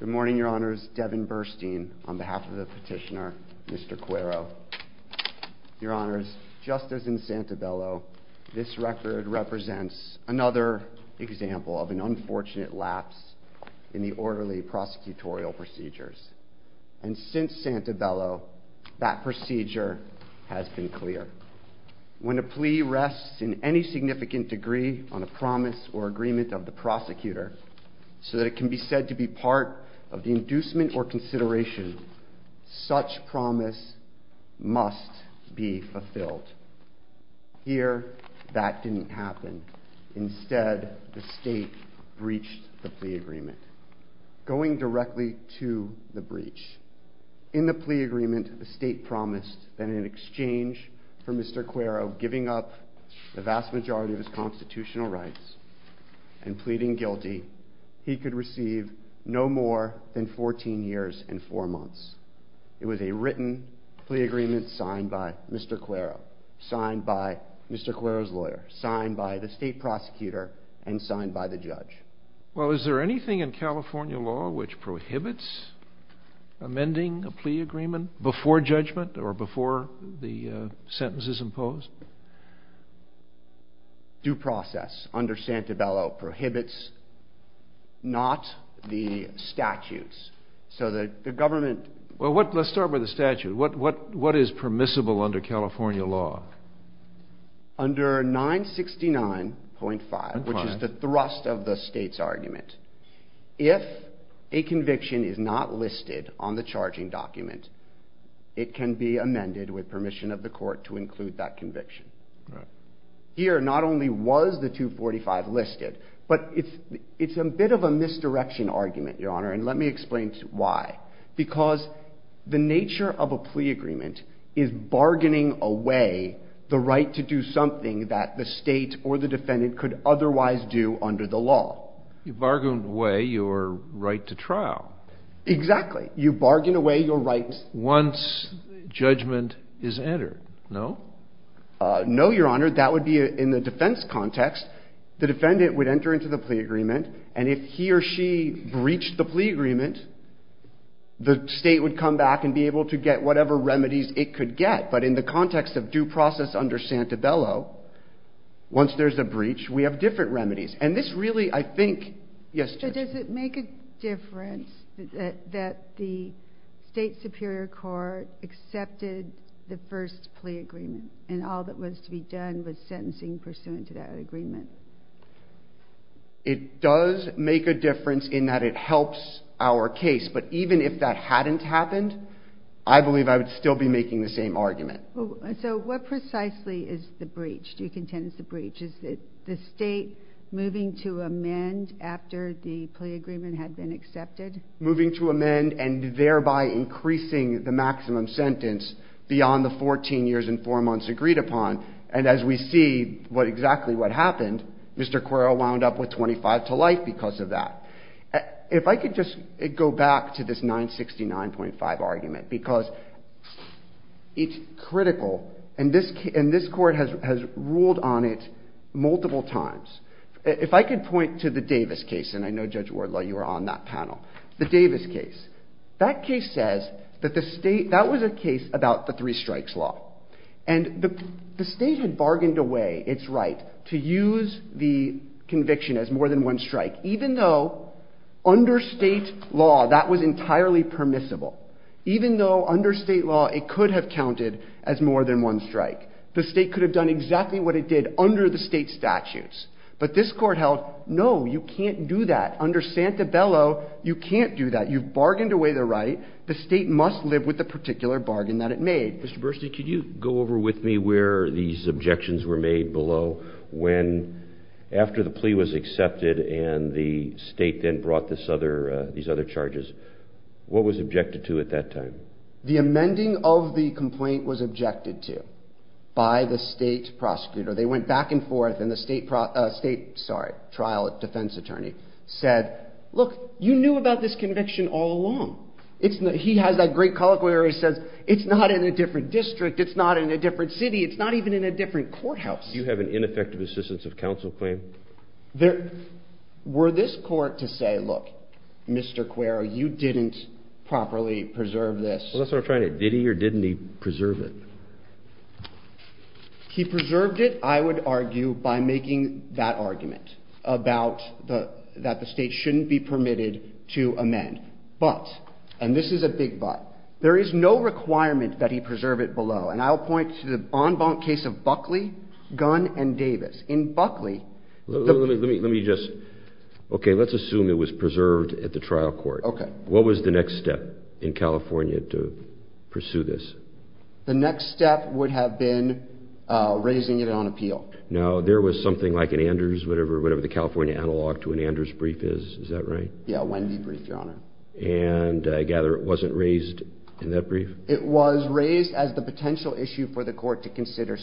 Good morning, your honors. Devin Burstein on behalf of the petitioner, Mr. Cuero. Your honors, just as in Santabello, this record represents another example of an unfortunate lapse in the orderly prosecutorial procedures. And since Santabello, that procedure has been clear. When a plea rests in any significant degree on a promise or agreement of the prosecutor, so that it can be said to be part of the inducement or consideration, such promise must be fulfilled. Here, that didn't happen. Instead, the state breached the plea agreement, going directly to the breach. In the plea agreement, the state promised that in exchange for Mr. Cuero giving up the vast majority of his constitutional rights and pleading guilty, he could receive no more than 14 years and four months. It was a written plea agreement signed by Mr. Cuero, signed by Mr. Cuero's lawyer, signed by the state prosecutor, and signed by the judge. Well, is there anything in California law which prohibits amending a plea agreement before judgment or before the sentence is imposed? Due process under Santabello prohibits not the statutes, so that the government... Well, let's start with the statute. What is permissible under California law? Under 969.5, which is the thrust of the state's argument, if a conviction is not listed on the charging document, it can be amended with permission of the court to include that conviction. Here, not only was the 245 listed, but it's a bit of a misdirection argument, Your Honor, and let me explain to you why. Because the nature of a plea agreement is bargaining away the right to do something that the state or the defendant could otherwise do under the law. You bargain away your right to trial. Exactly. You bargain away your rights... Once judgment is entered, no? No, Your Honor. That would be in the defense context. The defendant would enter into the agreement, the state would come back and be able to get whatever remedies it could get, but in the context of due process under Santabello, once there's a breach, we have different remedies. And this really, I think... Does it make a difference that the state superior court accepted the first plea agreement and all that was to be done was sentencing pursuant to that agreement? It does make a difference in that it helps our case, but even if that hadn't happened, I believe I would still be making the same argument. So what precisely is the breach? Do you contend it's a breach? Is it the state moving to amend after the plea agreement had been accepted? Moving to amend and thereby increasing the maximum sentence beyond the 14 years and four years. Mr. Quirrell wound up with 25 to life because of that. If I could just go back to this 969.5 argument, because it's critical, and this court has ruled on it multiple times. If I could point to the Davis case, and I know Judge Wardlaw, you were on that panel. The Davis case. That case says that the state... That was a case about the the conviction as more than one strike, even though under state law, that was entirely permissible. Even though under state law, it could have counted as more than one strike. The state could have done exactly what it did under the state statutes. But this court held, no, you can't do that. Under Santabello, you can't do that. You've bargained away the right. The state must live with the particular bargain that it made. Mr. Burstein, could you go over with me where these objections were made below, when after the plea was accepted and the state then brought these other charges. What was objected to at that time? The amending of the complaint was objected to by the state prosecutor. They went back and forth, and the state trial defense attorney said, look, you knew about this conviction all along. He has that great colloquy where he says, it's not in a different district. It's not in a different city. It's not even in a different courthouse. You have an ineffective assistance of counsel claim? Were this court to say, look, Mr. Cuero, you didn't properly preserve this? Well, that's what I'm trying to... Did he or didn't he preserve it? He preserved it, I would argue, by making that argument about that the state shouldn't be and this is a big but. There is no requirement that he preserve it below, and I'll point to the en banc case of Buckley, Gunn, and Davis. In Buckley... Let me just... Okay, let's assume it was preserved at the trial court. Okay. What was the next step in California to pursue this? The next step would have been raising it on appeal. Now, there was something like an Anders, whatever the California analog to an Anders brief is, is that right? Yeah, a Wendy brief, Your Honor. And I gather it wasn't raised in that brief? It was raised as the potential issue for the court to consider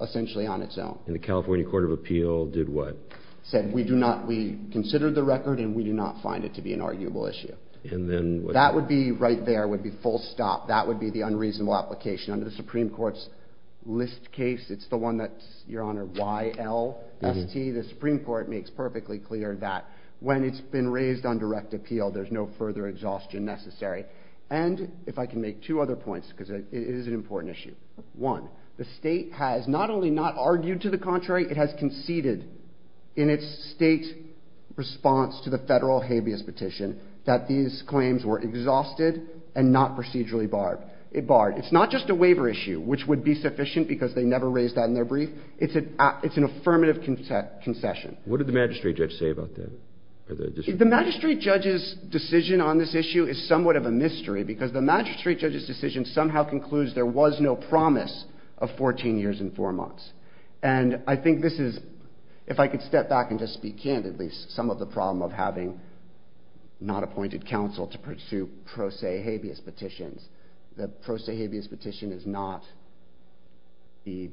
essentially on its own. And the California Court of Appeal did what? Said, we considered the record and we do not find it to be an arguable issue. And then... That would be right there, would be full stop. That would be the unreasonable application. Under the Supreme Court's list case, it's the one that's, Your Honor, YLST, the Supreme Court makes perfectly clear that when it's been raised on direct appeal, there's no further exhaustion necessary. And if I can make two other points, because it is an important issue. One, the state has not only not argued to the contrary, it has conceded in its state response to the federal habeas petition that these claims were exhausted and not procedurally barred. It barred. It's not just a waiver issue, which would be sufficient because they never raised that in their brief. It's an affirmative concession. What did the magistrate judge say about that? The magistrate judge's decision on this issue is somewhat of a mystery because the magistrate judge's decision somehow concludes there was no promise of 14 years and four months. And I think this is, if I could step back and just speak candidly, some of the problem of having not appointed counsel to pursue pro se habeas petitions. The pro se habeas petition is not the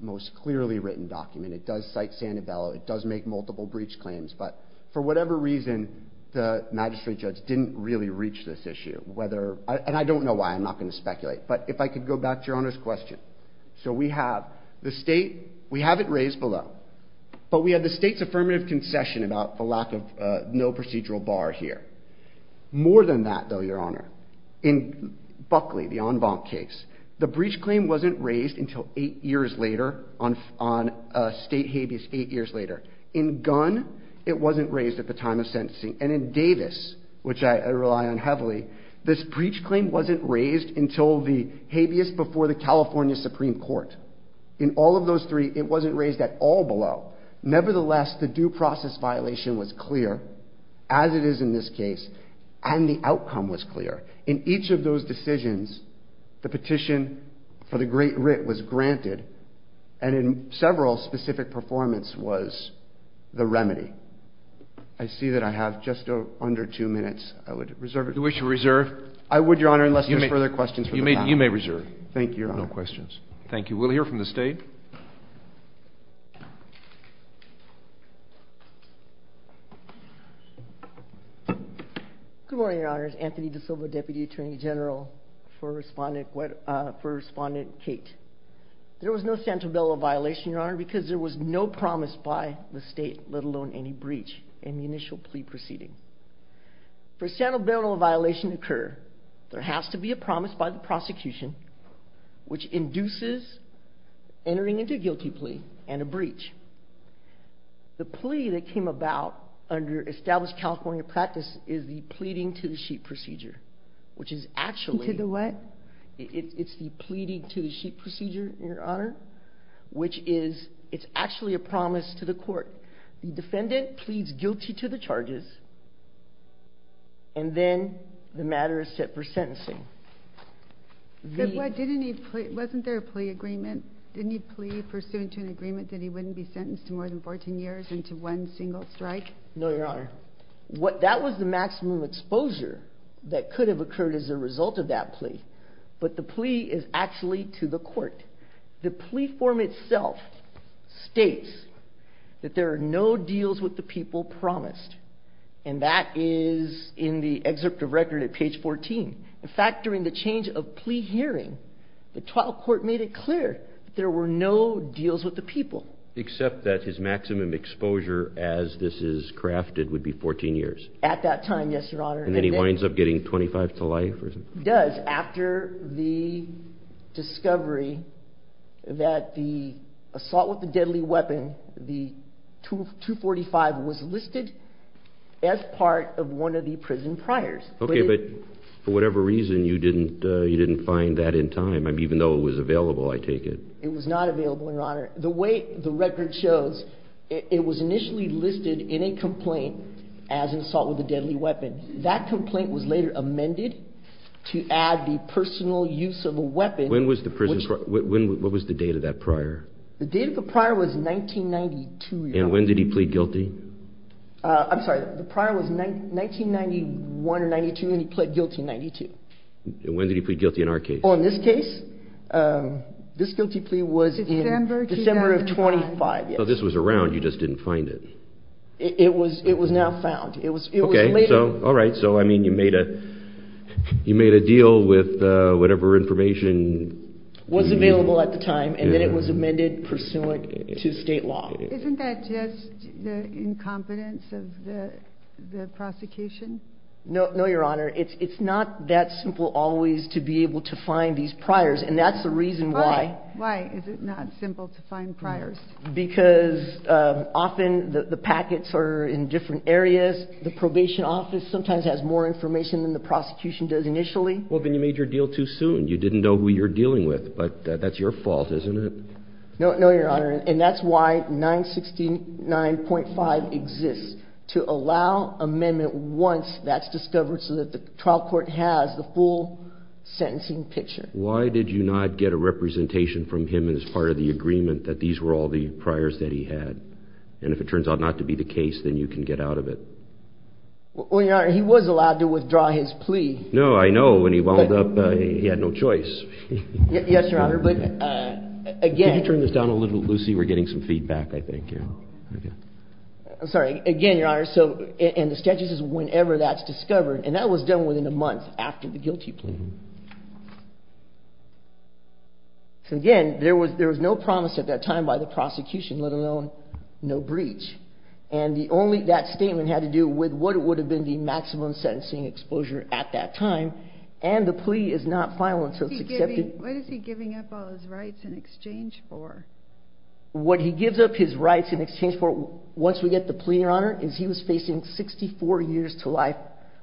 most clearly written document. It does cite Sandoval. It does make multiple breach claims. But for whatever reason, the magistrate judge didn't really reach this issue. And I don't know why. I'm not going to speculate. But if I could go back to Your Honor's question. So we have the state. We have it raised below. But we have the state's affirmative concession about the lack of no procedural bar here. More than that, though, Your Honor, in Buckley, the en banc case, the breach claim wasn't raised until eight years later on state habeas, eight years later. In Gunn, it wasn't raised at the time of sentencing. And in Davis, which I rely on heavily, this breach claim wasn't raised until the habeas before the California Supreme Court. In all of those three, it wasn't raised at all below. Nevertheless, the due process violation was clear, as it is in this case, and the outcome was clear. In each of those decisions, the petition for the great writ was granted. And in several, specific performance was the remedy. I see that I have just under two minutes. I would reserve it. You wish to reserve? I would, Your Honor, unless there's further questions from the panel. You may reserve. Thank you, Your Honor. No questions. Thank you. We'll hear from the state. Good morning, Your Honors. Anthony DiSilva, Deputy Attorney General for Respondent Kate. There was no Santobelo violation, Your Honor, because there was no promise by the state, let alone any breach in the initial plea proceeding. For Santobelo violation to occur, there has to be a promise by the prosecution, which induces entering into a guilty plea and a breach. The plea that came about under established California practice is the pleading to the sheep procedure, which is actually... To the what? It's the pleading to the sheep procedure, Your Honor, which is, it's actually a promise to the court. The defendant pleads guilty to the charges, and then the matter is set for sentencing. Wasn't there a plea agreement? Didn't he plea pursuant to an agreement that he wouldn't be sentenced to more than 14 years and to one single strike? No, Your Honor. But the plea is actually to the court. The plea form itself states that there are no deals with the people promised, and that is in the excerpt of record at page 14. In fact, during the change of plea hearing, the trial court made it clear that there were no deals with the people. Except that his maximum exposure as this is crafted would be 14 years. At that time, yes, Your Honor. And then he winds up getting 25 to life or something? Does, after the discovery that the assault with a deadly weapon, the 245 was listed as part of one of the prison priors. Okay, but for whatever reason, you didn't find that in time. Even though it was available, I take it. It was not available, Your Honor. The way the record shows, it was initially listed in a complaint as an assault with a deadly weapon. That complaint was later amended to add the personal use of a weapon. When was the prison, what was the date of that prior? The date of the prior was 1992, Your Honor. And when did he plead guilty? I'm sorry, the prior was 1991 or 92, and he pled guilty in 92. And when did he plead guilty in our case? Well, in this case, this guilty plea was in December of 25, yes. So this was around, you just didn't find it? It was now found. Okay, all right. So, I mean, you made a deal with whatever information... Was available at the time, and then it was amended pursuant to state law. Isn't that just the incompetence of the prosecution? No, Your Honor. It's not that simple always to be able to find these priors, and that's the reason why. Why is it not simple to find priors? Because often the packets are in different areas. The probation office sometimes has more information than the prosecution does initially. Well, then you made your deal too soon. You didn't know who you're dealing with. But that's your fault, isn't it? No, Your Honor. And that's why 969.5 exists, to allow amendment once that's discovered, so that the trial court has the full sentencing picture. Why did you not get a representation from him as part of the agreement that these were all the priors that he had? And if it turns out not to be the case, then you can get out of it. Well, Your Honor, he was allowed to withdraw his plea. No, I know. When he wound up, he had no choice. Yes, Your Honor. But again... Can you turn this down a little, Lucy? We're getting some feedback, I think. I'm sorry. Again, Your Honor, and the sketches is whenever that's discovered, and that was done within a month after the guilty plea. So again, there was no promise at that time by the prosecution, let alone no breach. And that statement had to do with what would have been the maximum sentencing exposure at that time. And the plea is not final until it's accepted. What is he giving up all his rights in exchange for? What he gives up his rights in exchange for, once we get the plea, Your Honor, is he was facing 64 years to life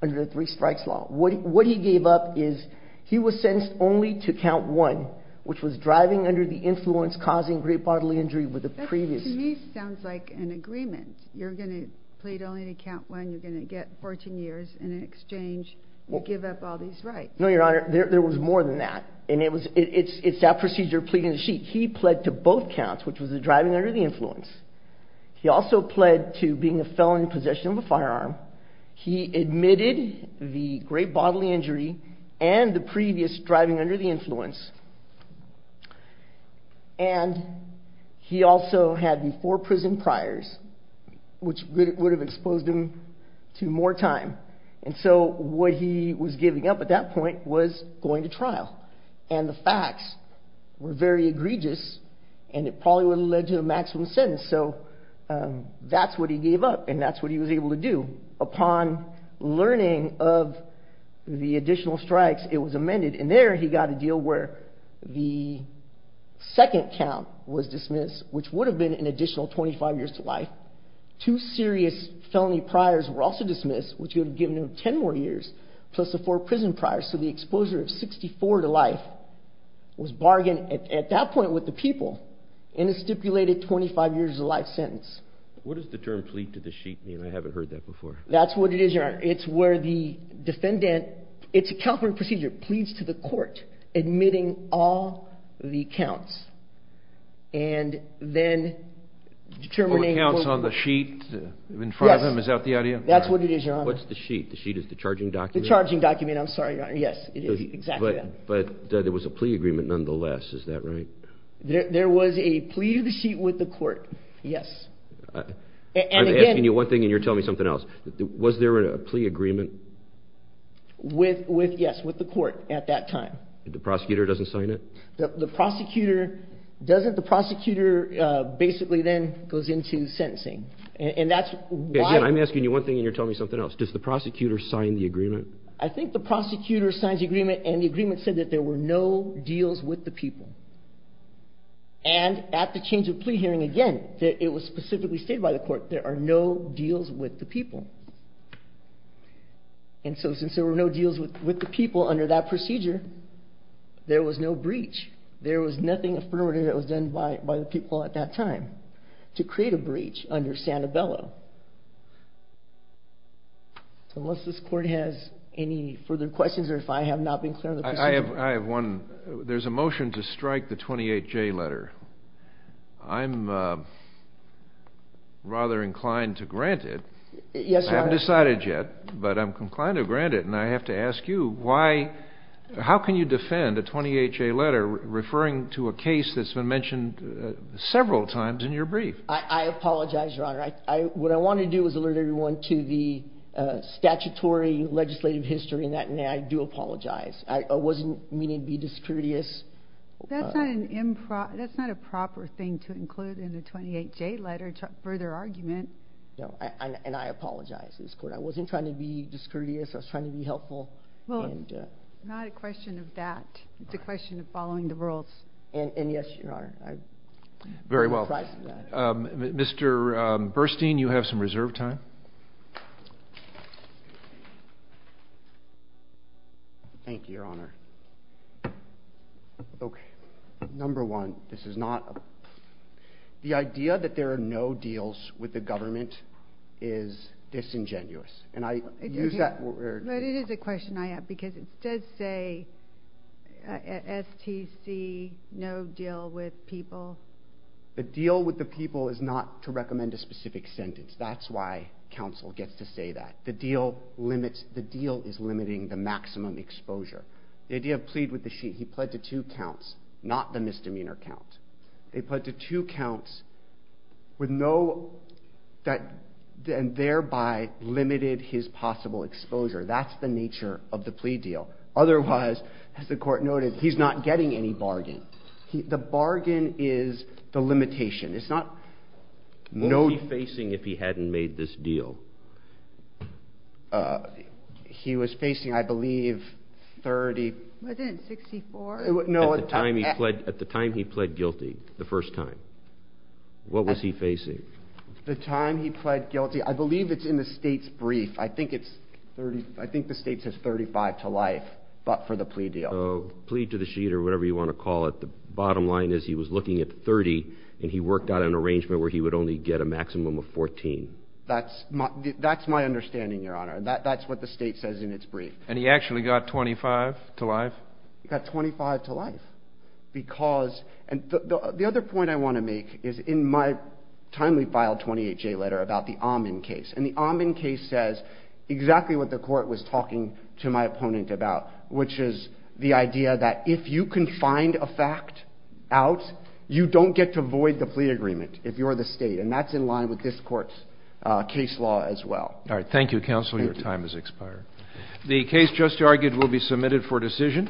under the three-strikes law. What he gave up is he was sentenced only to count one, which was driving under the influence, causing great bodily injury with the previous... To me, it sounds like an agreement. You're going to plead only to count one. You're going to get 14 years in exchange. You give up all these rights. No, Your Honor, there was more than that. And it's that procedure of pleading the sheet. He pled to both counts, which was the driving under the influence. He also pled to being a felon in possession of a firearm. He admitted the great bodily injury and the previous driving under the influence. And he also had before-prison priors, which would have exposed him to more time. And so what he was giving up at that point was going to trial. And the facts were very egregious, and it probably would have led to a maximum sentence. So that's what he gave up, and that's what he was able to do. Upon learning of the additional strikes, it was amended. And there, he got a deal where the second count was dismissed, which would have been an additional 25 years to life. Two serious felony priors were also dismissed, which would have given him 10 more years, plus the four prison priors. So the exposure of 64 to life was bargained at that point with the people in a stipulated 25 years to life sentence. What does the term plead to the sheet mean? I haven't heard that before. That's what it is, Your Honor. It's where the defendant... It's a calculating procedure. Pleads to the court, admitting all the counts, and then determining... All the counts on the sheet in front of him? Is that the idea? That's what it is, Your Honor. What's the sheet? The sheet is the charging document? The charging document. I'm sorry, Your Honor. Yes, it is exactly that. But there was a plea agreement nonetheless. Is that right? There was a plea to the sheet with the court. Yes. I'm asking you one thing, and you're telling me something else. Was there a plea agreement? With, yes, with the court at that time. The prosecutor doesn't sign it? The prosecutor doesn't. The prosecutor basically then goes into sentencing. And that's why... Again, I'm asking you one thing, and you're telling me something else. Does the prosecutor sign the agreement? I think the prosecutor signs the agreement, and the agreement said that there were no deals with the people. And at the change of plea hearing, again, it was specifically stated by the court there are no deals with the people. And so since there were no deals with the people under that procedure, there was no breach. There was nothing affirmative that was done by the people at that time to create a breach under Santabello. So unless this court has any further questions, or if I have not been clear on the procedure... I have one. There's a motion to strike the 28J letter. I'm rather inclined to grant it. Yes, Your Honor. I haven't decided yet, but I'm inclined to grant it. And I have to ask you, how can you defend a 28J letter referring to a case that's been mentioned several times in your brief? I apologize, Your Honor. What I wanted to do was alert everyone to the statutory legislative history in that, and I do apologize. I wasn't meaning to be discourteous. That's not a proper thing to include in the 28J letter, further argument. And I apologize, this court. I wasn't trying to be discourteous. I was trying to be helpful. Well, not a question of that. It's a question of following the rules. And yes, Your Honor. Very well. Mr. Burstein, you have some reserve time. Thank you, Your Honor. Okay. Number one, this is not a... The idea that there are no deals with the government is disingenuous. And I use that word... But it is a question I have, because it does say STC, no deal with people. The deal with the people is not to recommend a specific sentence. That's why counsel gets to say that. The deal limits... The deal is limiting the maximum exposure. The idea of plead with the sheet, he pled to two counts, not the misdemeanor count. They pled to two counts with no... That thereby limited his possible exposure. That's the nature of the plea deal. Otherwise, as the court noted, he's not getting any bargain. The bargain is the limitation. It's not... What would he be facing if he hadn't made this deal? He was facing, I believe, 30... Wasn't it 64? No, it's... At the time he pled guilty, the first time, what was he facing? The time he pled guilty, I believe it's in the state's brief. I think it's 30... I think the state says 35 to life, but for the plea deal. Plead to the sheet or whatever you want to call it. The bottom line is he was looking at 30, and he worked out an arrangement where he would only get a maximum of 14. That's my understanding, Your Honor. That's what the state says in its brief. And he actually got 25 to life? He got 25 to life because... And the other point I want to make is in my timely filed 28J letter about the Amin case. And the Amin case says exactly what the court was talking to my opponent about, which is the idea that if you can find a fact out, you don't get to void the plea agreement if you're the state. And that's in line with this court's case law as well. All right. Thank you, counsel. Your time has expired. The case just argued will be submitted for decision.